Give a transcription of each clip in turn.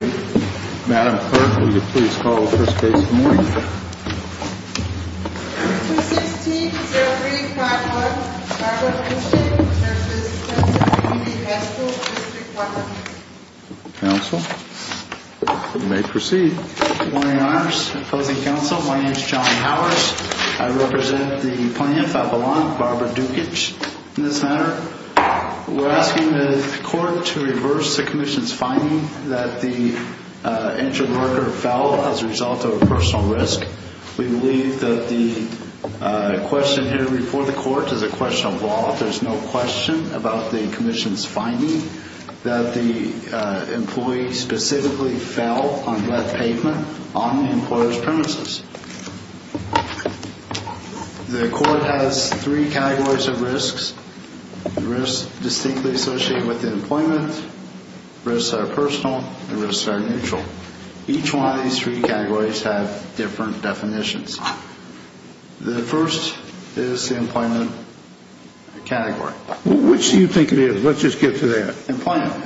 Madam Clerk, will you please call the first case of the morning? 216-0351, Barbara Dukich v. Pennsylvania Community High School, District 1. Counsel, you may proceed. Good morning, Your Honors. Opposing counsel, my name is John Howers. I represent the plaintiff, Avalon, Barbara Dukich, in this matter. We're asking the court to reverse the commission's finding that the injured worker fell as a result of a personal risk. We believe that the question here before the court is a question of law. There's no question about the commission's finding that the employee specifically fell on lead pavement on the employer's premises. The court has three categories of risks. The risks distinctly associated with employment, risks that are personal, and risks that are neutral. Each one of these three categories have different definitions. The first is the employment category. Which do you think it is? Let's just get to that. Employment,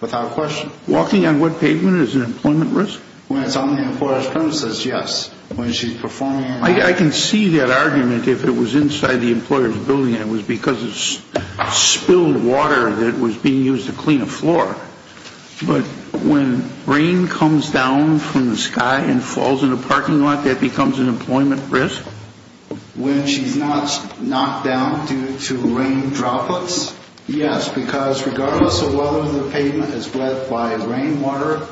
without question. Walking on lead pavement is an employment risk? When it's on the employer's premises, yes. When she's performing... I can see that argument if it was inside the employer's building and it was because of spilled water that was being used to clean a floor. But when rain comes down from the sky and falls in a parking lot, that becomes an employment risk? When she's not knocked down due to rain droplets? Yes, because regardless of whether the pavement is wet by rain water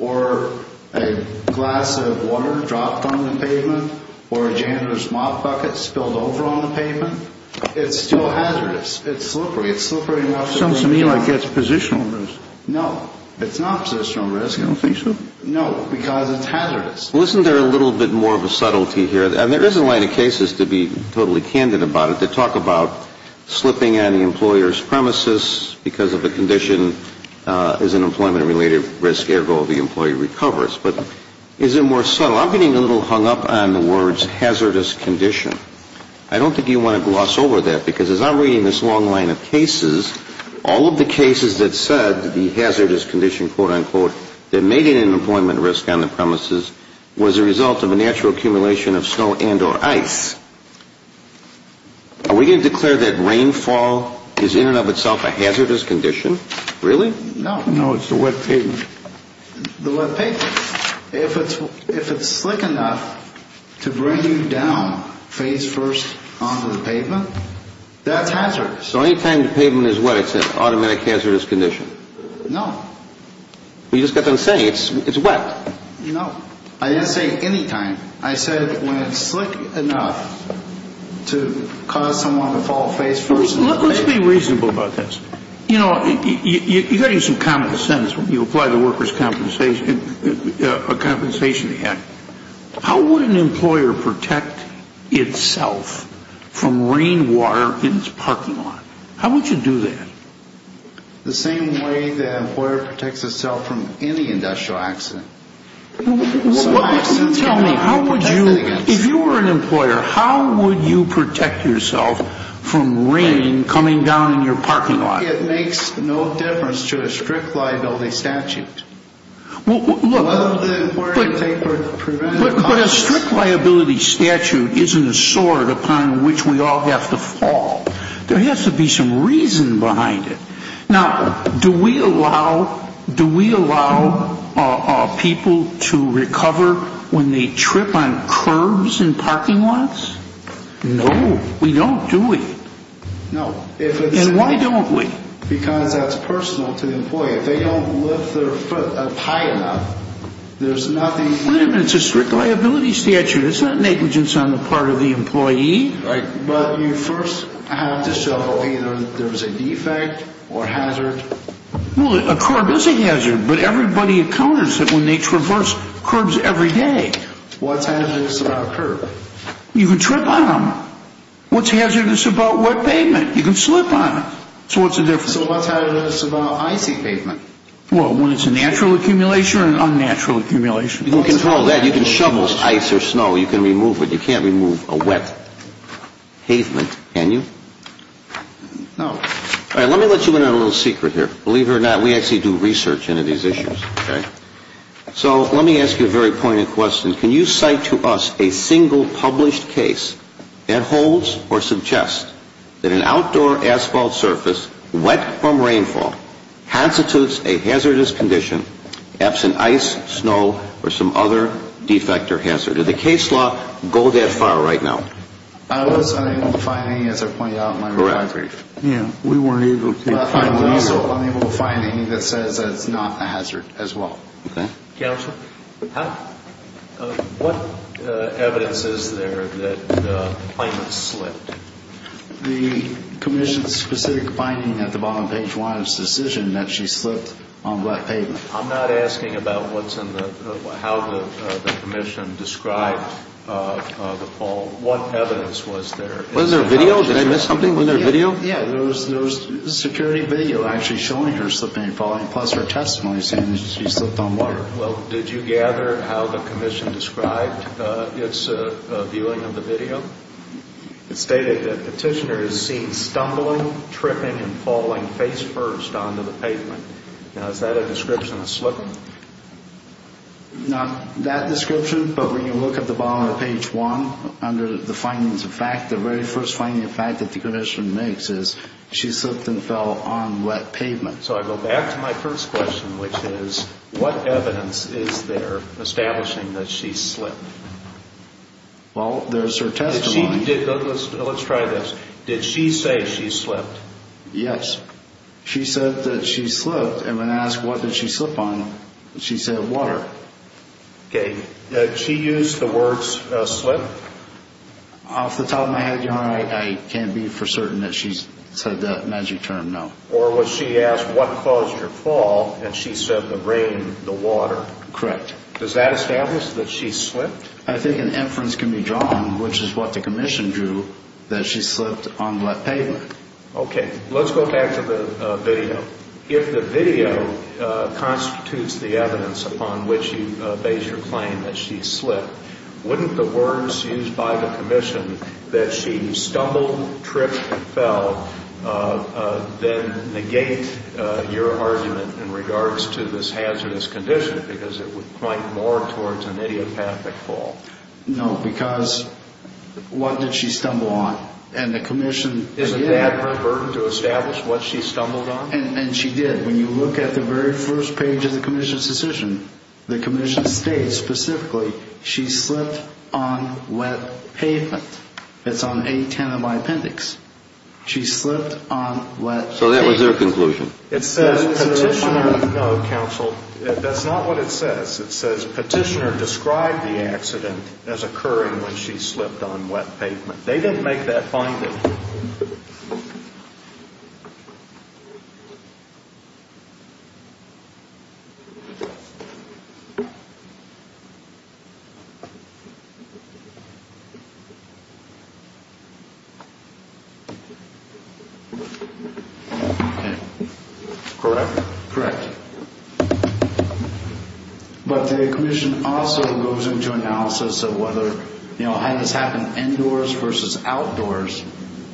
or a glass of water dropped on the pavement or a janitor's mop bucket spilled over on the pavement, it's still hazardous. It's slippery. Sounds to me like it's a positional risk. No, it's not a positional risk. You don't think so? No, because it's hazardous. Listen, there's a little bit more of a subtlety here. And there is a line of cases, to be totally candid about it, that talk about slipping on the employer's premises because of a condition as an employment-related risk, ergo the employee recovers. But is it more subtle? I'm getting a little hung up on the words hazardous condition. I don't think you want to gloss over that, because as I'm reading this long line of cases, all of the cases that said the hazardous condition, quote, unquote, that made it an employment risk on the premises was a result of a natural accumulation of snow and or ice. Are we going to declare that rainfall is in and of itself a hazardous condition? Really? No. No, it's the wet pavement. The wet pavement. If it's slick enough to bring you down face first onto the pavement, that's hazardous. So any time the pavement is wet, it's an automatic hazardous condition? No. You just got them saying it's wet. No. I didn't say any time. I said when it's slick enough to cause someone to fall face first onto the pavement. Let's be reasonable about this. You know, you got to use some common sense when you apply the workers' compensation act. How would an employer protect itself from rainwater in its parking lot? How would you do that? The same way the employer protects itself from any industrial accident. Tell me, how would you, if you were an employer, how would you protect yourself from rain coming down in your parking lot? It makes no difference to a strict liability statute. Look, but a strict liability statute isn't a sword upon which we all have to fall. There has to be some reason behind it. Now, do we allow people to recover when they trip on curbs in parking lots? No, we don't, do we? No. And why don't we? Because that's personal to the employer. If they don't lift their foot up high enough, there's nothing... Wait a minute, it's a strict liability statute. It's not negligence on the part of the employee. But you first have to show either there's a defect or hazard. Well, a curb is a hazard, but everybody encounters it when they traverse curbs every day. What's hazardous about a curb? You can trip on them. What's hazardous about wet pavement? You can slip on it. So what's the difference? So what's hazardous about icy pavement? Well, when it's a natural accumulation or an unnatural accumulation? You can control that. You can shovel ice or snow. You can remove it. But what's hazardous about wet pavement? Can you? No. All right, let me let you in on a little secret here. Believe it or not, we actually do research into these issues, okay? So let me ask you a very pointed question. Can you cite to us a single published case that holds or suggests that an outdoor asphalt surface, wet from rainfall, constitutes a hazardous condition, absent ice, snow, or some other defect or hazard? If you do the case law, go that far right now. I was unable to find any, as I pointed out in my reply brief. Yeah, we weren't able to find any. I'm also unable to find any that says that it's not a hazard as well. Okay. Counselor? Huh? What evidence is there that the claimant slipped? The commission's specific finding at the bottom of page one is the decision that she slipped on wet pavement. I'm not asking about how the commission described the fall. What evidence was there? Was there a video? Did I miss something in their video? Yeah, there was a security video actually showing her slipping and falling, plus her testimony saying that she slipped on water. Well, did you gather how the commission described its viewing of the video? It stated that petitioner is seen stumbling, tripping, and falling face first onto the pavement. Now, is that a description of slipping? Not that description, but when you look at the bottom of page one under the findings of fact, the very first finding of fact that the commission makes is she slipped and fell on wet pavement. So I go back to my first question, which is what evidence is there establishing that she slipped? Well, there's her testimony. Let's try this. Did she say she slipped? Yes. She said that she slipped, and when asked what did she slip on, she said water. Okay. Did she use the words slip? Off the top of my head, Your Honor, I can't be for certain that she said that magic term no. Or was she asked what caused her fall, and she said the rain, the water. Correct. Does that establish that she slipped? I think an inference can be drawn, which is what the commission drew, that she slipped on wet pavement. Okay. Let's go back to the video. If the video constitutes the evidence upon which you base your claim that she slipped, wouldn't the words used by the commission that she stumbled, tripped, fell, then negate your argument in regards to this hazardous condition, because it would point more towards an idiopathic fall? No, because what did she stumble on? Isn't that her burden to establish what she stumbled on? And she did. When you look at the very first page of the commission's decision, the commission states specifically she slipped on wet pavement. It's on A10 of my appendix. She slipped on wet pavement. So that was their conclusion. No, counsel, that's not what it says. It says petitioner described the accident as occurring when she slipped on wet pavement. They didn't make that finding. Correct. But the commission also goes into analysis of whether, you know, had this happened indoors versus outdoors,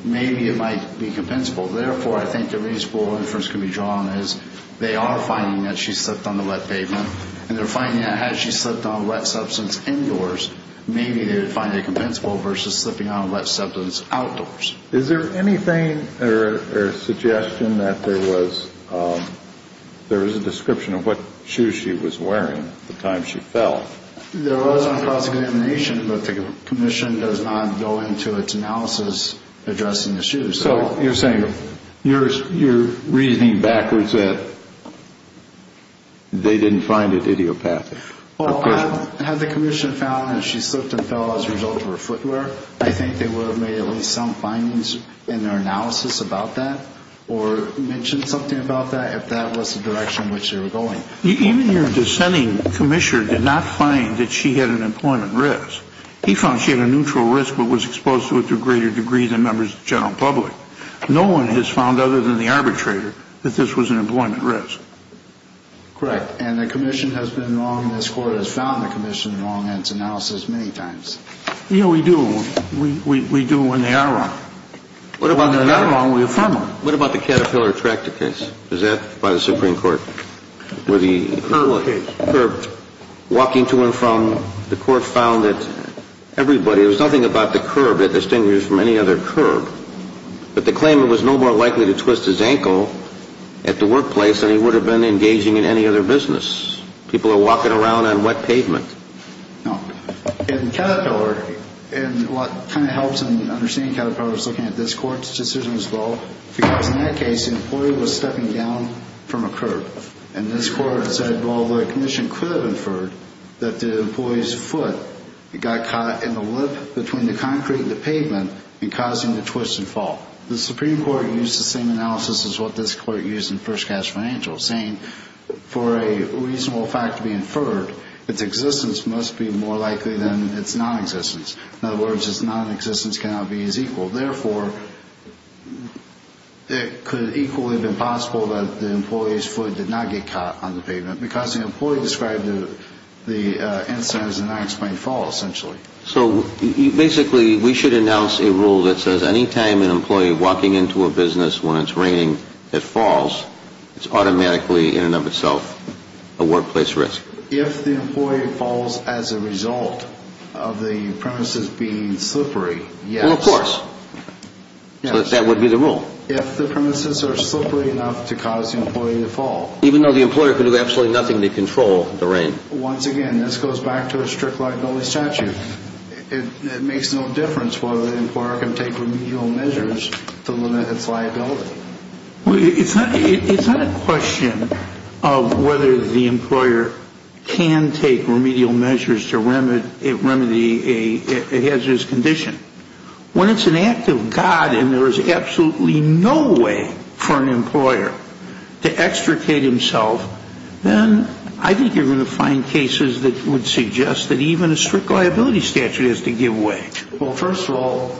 maybe it might be compensable. Therefore, I think the reasonable inference can be drawn is they are finding that she slipped on the wet pavement, and they're finding that had she slipped on wet substance indoors, maybe they would find it compensable versus slipping on wet substance outdoors. Is there anything or a suggestion that there was a description of what shoes she was wearing the time she fell? There was on cross-examination, but the commission does not go into its analysis addressing the shoes. So you're saying you're reasoning backwards that they didn't find it idiopathic? Well, had the commission found that she slipped and fell as a result of her footwear, I think they would have made at least some findings in their analysis about that or mentioned something about that if that was the direction in which they were going. Even your dissenting commissioner did not find that she had an employment risk. He found she had a neutral risk but was exposed to it to a greater degree than members of the general public. No one has found, other than the arbitrator, that this was an employment risk. Correct. And the commission has been wrong, and this Court has found the commission wrong in its analysis many times. Yeah, we do. We do when they are wrong. When they're not wrong, we affirm them. What about the Caterpillar tractor case? Was that by the Supreme Court? The curb case. Curb. Walking to and from, the Court found that everybody, there was nothing about the curb that distinguishes from any other curb, but the claimant was no more likely to twist his ankle at the workplace than he would have been engaging in any other business. People are walking around on wet pavement. In Caterpillar, and what kind of helps in understanding Caterpillar is looking at this Court's decision as well, because in that case, the employee was stepping down from a curb, and this Court said, well, the commission could have inferred that the employee's foot got caught in the lip between the concrete and the pavement and causing the twist and fall. The Supreme Court used the same analysis as what this Court used in First Cash Financial, saying for a reasonable fact to be inferred, its existence must be more likely than its nonexistence. In other words, its nonexistence cannot be as equal. Therefore, it could equally have been possible that the employee's foot did not get caught on the pavement because the employee described the incident as an unexplained fall, essentially. So basically, we should announce a rule that says any time an employee walking into a business when it's raining, it falls. It's automatically, in and of itself, a workplace risk. If the employee falls as a result of the premises being slippery, yes. Well, of course. So that would be the rule. If the premises are slippery enough to cause the employee to fall. Even though the employer could do absolutely nothing to control the rain. Once again, this goes back to a strict liability statute. It makes no difference whether the employer can take remedial measures to limit its liability. Well, it's not a question of whether the employer can take remedial measures to remedy a hazardous condition. When it's an act of God and there is absolutely no way for an employer to extricate himself, then I think you're going to find cases that would suggest that even a strict liability statute has to give way. Well, first of all,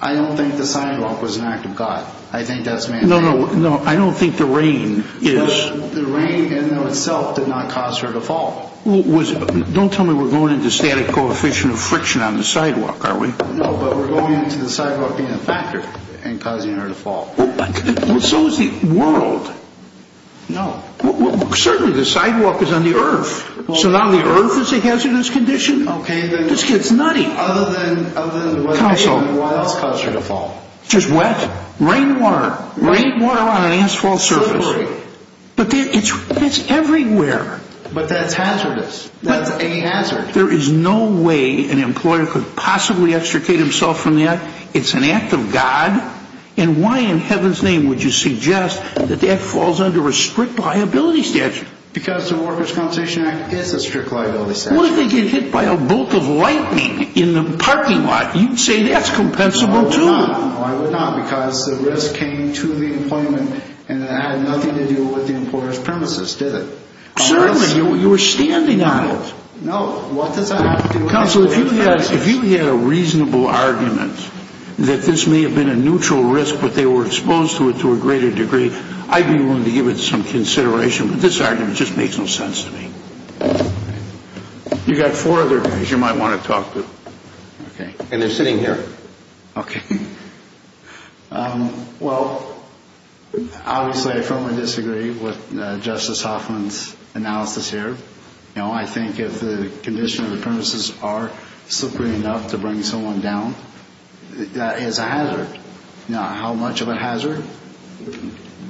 I don't think the sidewalk was an act of God. I think that's mandatory. No, I don't think the rain is. The rain in and of itself did not cause her to fall. Don't tell me we're going into static coefficient of friction on the sidewalk, are we? No, but we're going into the sidewalk being a factor in causing her to fall. So is the world. No. Certainly the sidewalk is on the earth. So now the earth is a hazardous condition? Okay. This gets nutty. Other than what else caused her to fall? Just wet. Rainwater. Rainwater on an asphalt surface. Slippery. But that's everywhere. But that's hazardous. That's a hazard. There is no way an employer could possibly extricate himself from that. It's an act of God. And why in heaven's name would you suggest that that falls under a strict liability statute? Because the Workers' Compensation Act is a strict liability statute. What if they get hit by a bolt of lightning in the parking lot? You'd say that's compensable too. No, I would not. No, I would not because the risk came to the employment and it had nothing to do with the employer's premises, did it? Certainly. You were standing on it. No, what does that have to do with the employer's premises? Counsel, if you had a reasonable argument that this may have been a neutral risk but they were exposed to it to a greater degree, I'd be willing to give it some consideration. But this argument just makes no sense to me. You've got four other guys you might want to talk to. Okay. And they're sitting here. Okay. Well, obviously I firmly disagree with Justice Hoffman's analysis here. I think if the condition of the premises are slippery enough to bring someone down, that is a hazard. Now, how much of a hazard?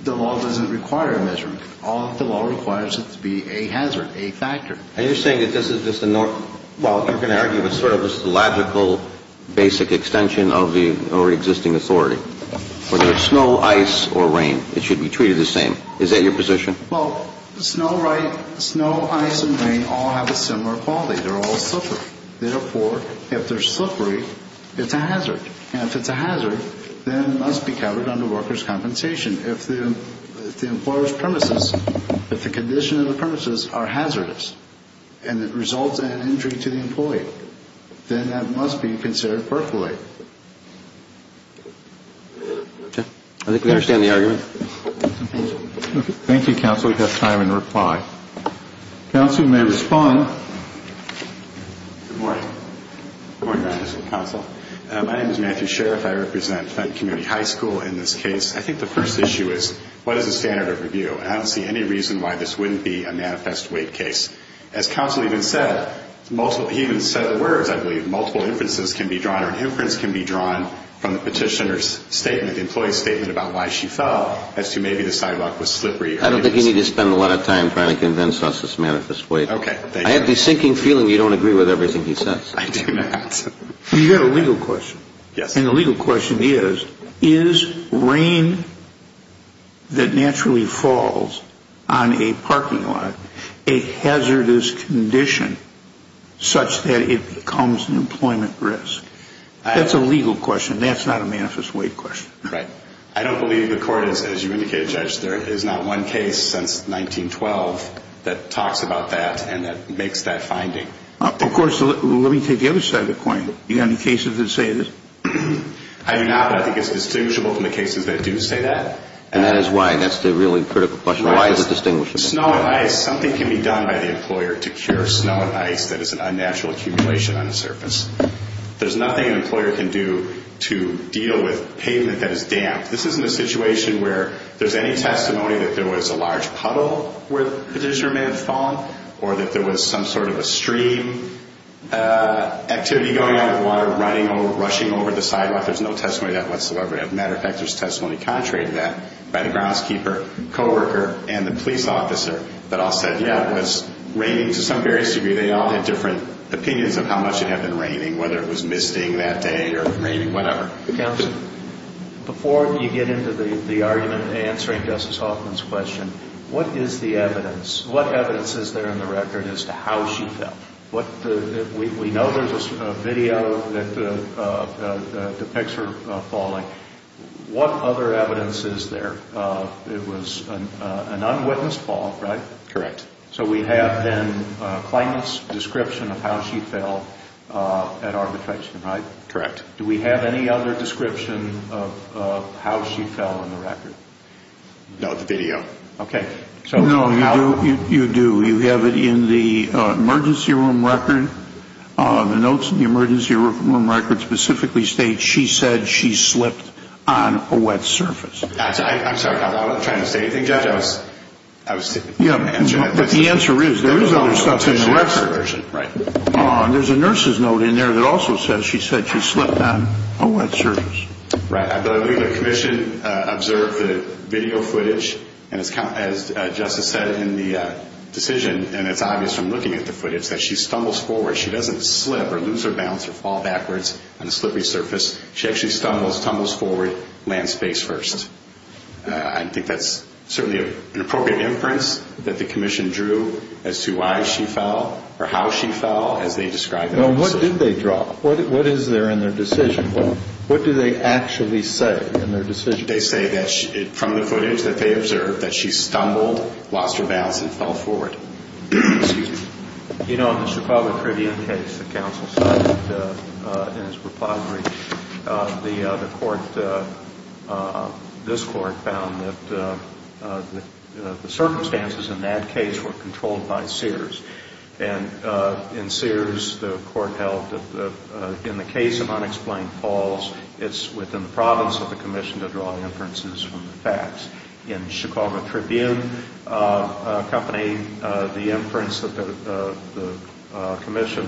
The law doesn't require a measurement. All the law requires is it to be a hazard, a factor. And you're saying that this is just a north – well, you're going to argue it's sort of just a logical basic extension of the already existing authority. Whether it's snow, ice, or rain, it should be treated the same. Is that your position? Well, snow, ice, and rain all have a similar quality. They're all slippery. Therefore, if they're slippery, it's a hazard. And if it's a hazard, then it must be covered under workers' compensation. If the employer's premises, if the condition of the premises are hazardous and it results in an injury to the employee, then that must be considered percolate. I think we understand the argument. Thank you, counsel. We have time in reply. Counsel may respond. Good morning. Good morning, counsel. My name is Matthew Sherriff. I represent Flint Community High School in this case. I think the first issue is what is the standard of review? I don't see any reason why this wouldn't be a manifest weight case. As counsel even said, he even said the words, I believe, multiple inferences can be drawn or an inference can be drawn from the petitioner's statement, the employee's statement, about why she fell as to maybe the sidewalk was slippery. I don't think you need to spend a lot of time trying to convince us it's manifest weight. Okay, thank you. I have the sinking feeling you don't agree with everything he says. I do not. You've got a legal question. Yes. And the legal question is, is rain that naturally falls on a parking lot a hazardous condition such that it becomes an employment risk? That's a legal question. That's not a manifest weight question. Right. I don't believe the court is, as you indicated, Judge, there is not one case since 1912 that talks about that and that makes that finding. Of course, let me take the other side of the coin. Do you have any cases that say this? I do not, but I think it's distinguishable from the cases that do say that. And that is why. And that's the really critical question. Why is it distinguishable? Snow and ice. Something can be done by the employer to cure snow and ice that is an unnatural accumulation on the surface. There's nothing an employer can do to deal with pavement that is damp. This isn't a situation where there's any testimony that there was a large puddle where the petitioner may have fallen or that there was some sort of a stream activity going out of the water rushing over the sidewalk. There's no testimony to that whatsoever. As a matter of fact, there's testimony contrary to that by the groundskeeper, co-worker, and the police officer that all said, yeah, it was raining to some various degree. They all had different opinions of how much it had been raining, whether it was misting that day or raining, whatever. Counsel, before you get into the argument and answering Justice Hoffman's question, what is the evidence? What evidence is there in the record as to how she fell? We know there's a video that depicts her falling. What other evidence is there? It was an unwitnessed fall, right? Correct. So we have then claimant's description of how she fell at our detection, right? Correct. Do we have any other description of how she fell in the record? No, the video. Okay. No, you do. You have it in the emergency room record. The notes in the emergency room record specifically state she said she slipped on a wet surface. I'm sorry. I wasn't trying to say anything, Judge. I was just answering. But the answer is there is other stuff in the record. There's a nurse's note in there that also says she said she slipped on a wet surface. Right. I believe the commission observed the video footage, and as Justice said in the decision, and it's obvious from looking at the footage, that she stumbles forward. She doesn't slip or lose her balance or fall backwards on a slippery surface. She actually stumbles, tumbles forward, lands face first. I think that's certainly an appropriate inference that the commission drew as to why she fell or how she fell as they described it. Well, what did they draw? What is there in their decision? Well, what do they actually say in their decision? They say that from the footage that they observed that she stumbled, lost her balance, and fell forward. Excuse me. You know, in the Chicago Tribune case that counsel cited in his repository, the court, this court, found that the circumstances in that case were controlled by Sears. And in Sears, the court held that in the case of unexplained falls, it's within the province of the commission to draw inferences from the facts. In the Chicago Tribune company, the inference that the commission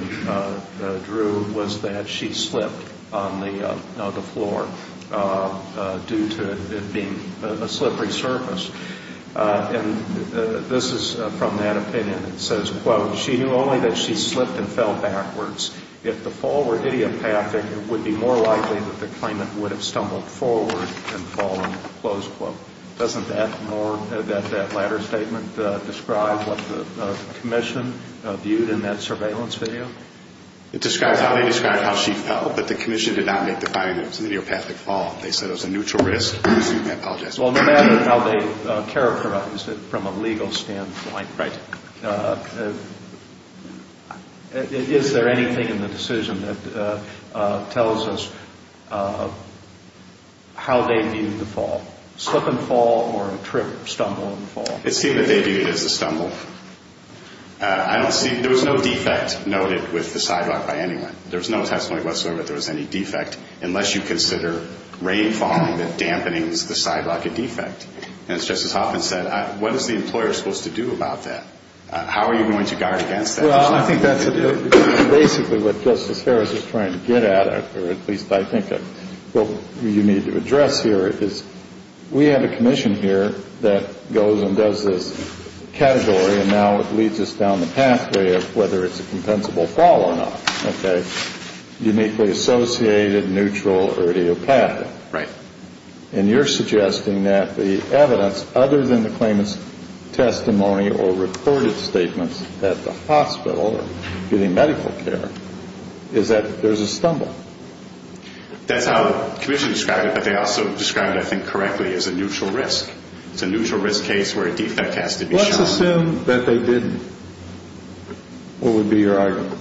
drew was that she slipped on the floor due to it being a slippery surface. And this is from that opinion. It says, quote, she knew only that she slipped and fell backwards. If the fall were idiopathic, it would be more likely that the claimant would have stumbled forward and fallen, close quote. Doesn't that more, that latter statement describe what the commission viewed in that surveillance video? It describes how they described how she fell, but the commission did not make the finding that it was an idiopathic fall. They said it was a neutral risk. Excuse me. I apologize. Well, no matter how they characterized it from a legal standpoint. Right. Is there anything in the decision that tells us how they viewed the fall? Slip and fall or a trip, stumble and fall? It seemed that they viewed it as a stumble. I don't see, there was no defect noted with the sidewalk by anyone. There was no testimony whatsoever that there was any defect, unless you consider rain falling that dampens the sidewalk a defect. And as Justice Hoffman said, what is the employer supposed to do about that? How are you going to guard against that? Well, I think that's basically what Justice Harris is trying to get at, or at least I think what you need to address here is we have a commission here that goes and does this category, and now it leads us down the pathway of whether it's a compensable fall or not. Okay. Uniquely associated, neutral, or idiopathic. Right. And you're suggesting that the evidence, other than the claimant's testimony or recorded statements at the hospital or getting medical care, is that there's a stumble. That's how the commission described it, but they also described it, I think, correctly as a neutral risk. It's a neutral risk case where a defect has to be shown. Let's assume that they didn't. What would be your argument?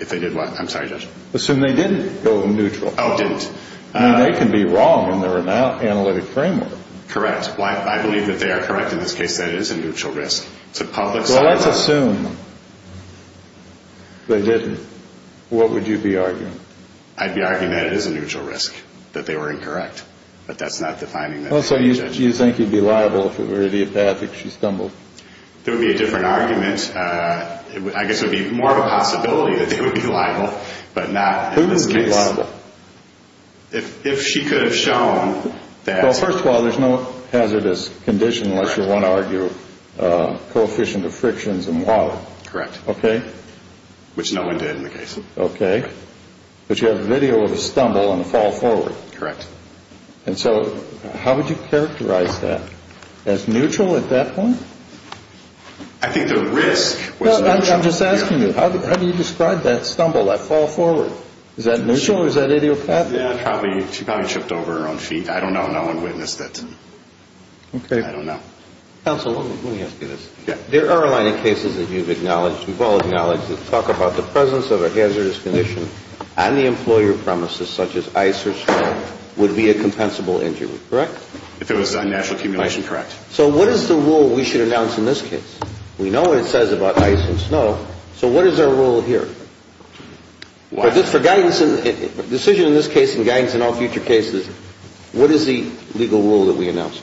If they did what? I'm sorry, Judge. Assume they didn't go neutral. Oh, didn't. I mean, they can be wrong in their analytic framework. Correct. I believe that they are correct in this case, that it is a neutral risk. It's a public- Well, let's assume they didn't. What would you be arguing? I'd be arguing that it is a neutral risk, that they were incorrect. But that's not defining them. Well, so you think you'd be liable if it were idiopathic, she stumbled. That would be a different argument. I guess it would be more of a possibility that they would be liable, but not in this case. Who would be liable? If she could have shown that- Well, first of all, there's no hazardous condition unless you want to argue coefficient of frictions and water. Correct. Okay? Which no one did in the case. Okay. But you have a video of a stumble and a fall forward. Correct. And so how would you characterize that? As neutral at that point? I think the risk was neutral. I'm just asking you, how do you describe that stumble, that fall forward? Is that neutral or is that idiopathic? Yeah, she probably tripped over her own feet. I don't know. No one witnessed it. Okay. I don't know. Counsel, let me ask you this. Yeah. There are a line of cases that you've acknowledged, we've all acknowledged, that talk about the presence of a hazardous condition on the employer premises, such as ice or snow, would be a compensable injury. Correct? If it was a natural accumulation, correct. So what is the rule we should announce in this case? We know what it says about ice and snow. So what is our rule here? Decision in this case and guidance in all future cases, what is the legal rule that we announce?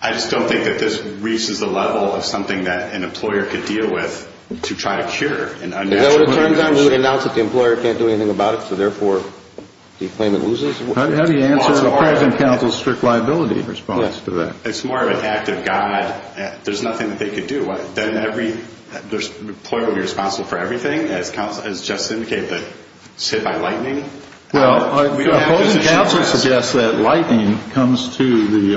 I just don't think that this reaches the level of something that an employer could deal with to try to cure an unnatural condition. You know what it turns out? We announce that the employer can't do anything about it, so therefore, do you claim it loses? How do you answer the present counsel's strict liability response to that? It's more of an act of God. There's nothing that they could do. Then every employer would be responsible for everything, as just indicated, but it's hit by lightning. Well, the opposing counsel suggests that lightning comes to the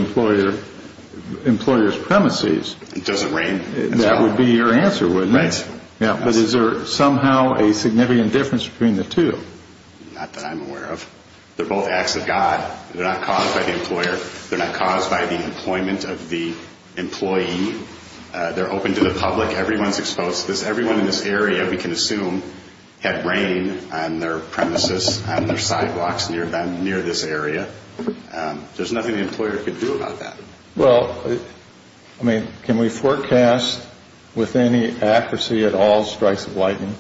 employer's premises. It doesn't rain. That would be your answer, wouldn't it? Right. But is there somehow a significant difference between the two? Not that I'm aware of. They're both acts of God. They're not caused by the employer. They're not caused by the employment of the employee. They're open to the public. Everyone's exposed to this. Everyone in this area, we can assume, had rain on their premises, on their sidewalks near this area. There's nothing the employer could do about that. Well, I mean, can we forecast with any accuracy at all strikes of lightning?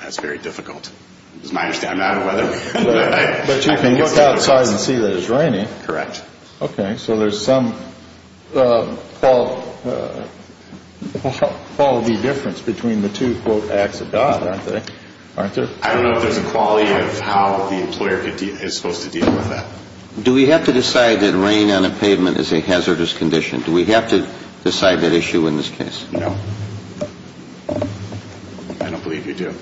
That's very difficult. It's my understanding. I'm not a weatherman. But you can look outside and see that it's raining. Correct. Okay. So there's some quality difference between the two, quote, acts of God, aren't there? I don't know if there's a quality of how the employer is supposed to deal with that. Do we have to decide that rain on a pavement is a hazardous condition? Do we have to decide that issue in this case? No. I don't believe you do.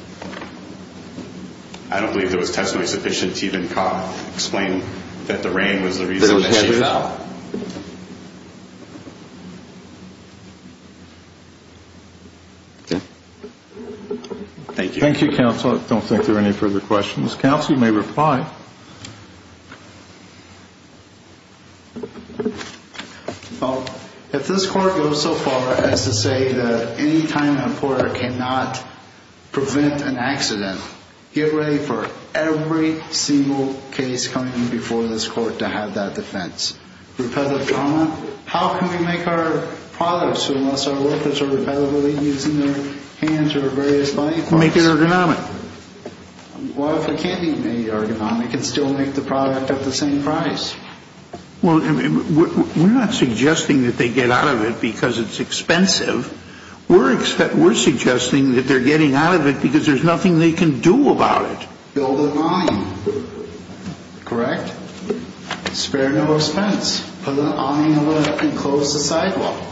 I don't believe there was testimony sufficient to even explain that the rain was the reason that she fell. They don't care about it. Okay. Thank you. Thank you, counsel. I don't think there are any further questions. Counsel, you may reply. Well, if this court goes so far as to say that any time an employer cannot prevent an accident, get ready for every single case coming in before this court to have that defense. Repetitive trauma, how can we make our products, unless our workers are repetitively using their hands or various body parts? Make it ergonomic. Well, if it can't be made ergonomic, it can still make the product at the same price. Well, we're not suggesting that they get out of it because it's expensive. We're suggesting that they're getting out of it because there's nothing they can do about it. Build an awning, correct? Spare no expense. Put an awning up and close the sidewalk.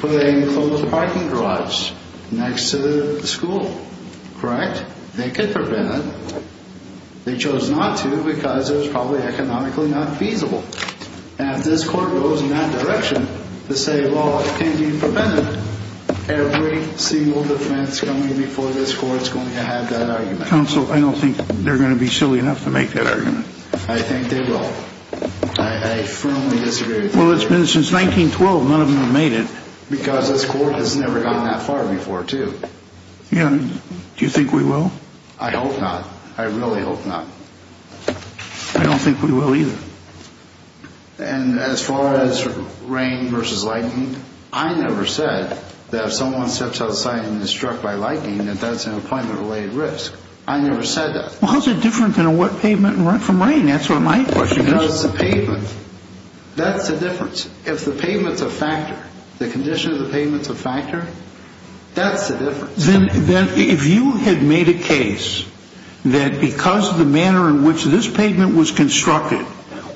Put a closed parking garage next to the school, correct? They could prevent it. They chose not to because it was probably economically not feasible. And if this court goes in that direction to say, well, it can't be prevented, every single defense coming before this court is going to have that argument. Counsel, I don't think they're going to be silly enough to make that argument. I think they will. I firmly disagree. Well, it's been since 1912. None of them have made it. Because this court has never gone that far before, too. Do you think we will? I hope not. I really hope not. I don't think we will either. And as far as rain versus lightning, I never said that if someone steps outside and is struck by lightning, that that's an employment-related risk. I never said that. Well, how is it different than a wet pavement from rain? That's what my question is. No, it's the pavement. That's the difference. If the pavement's a factor, the condition of the pavement's a factor, that's the difference. Then if you had made a case that because of the manner in which this pavement was constructed,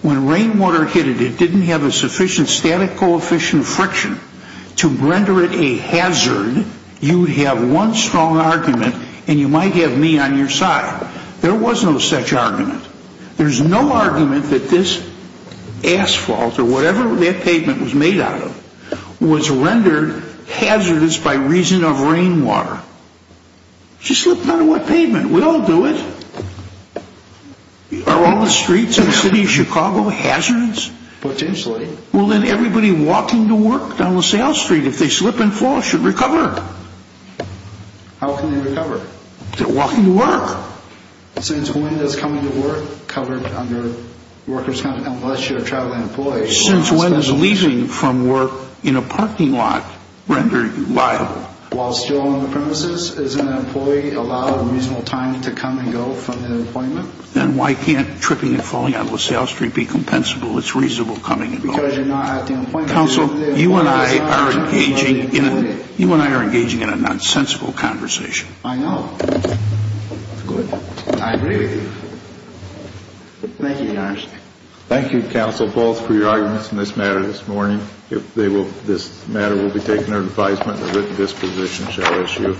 when rainwater hit it, it didn't have a sufficient static coefficient friction to render it a hazard, you would have one strong argument and you might have me on your side. There was no such argument. There's no argument that this asphalt or whatever that pavement was made out of was rendered hazardous by reason of rainwater. Just look at a wet pavement. We all do it. Are all the streets in the city of Chicago hazardous? Potentially. Well, then everybody walking to work down LaSalle Street, if they slip and fall, should recover. How can they recover? Walking to work. Since when does coming to work covered under workers' compensation unless you're a traveling employee? Since when is leaving from work in a parking lot rendered viable? While still on the premises, is an employee allowed a reasonable time to come and go from the appointment? Then why can't tripping and falling on LaSalle Street be compensable? It's reasonable coming and going. Because you're not at the appointment. Counsel, you and I are engaging in a nonsensical conversation. I know. Good. I agree with you. Thank you, Your Honor. Thank you, counsel, both, for your arguments in this matter this morning. If this matter will be taken under advisement, the written disposition shall issue.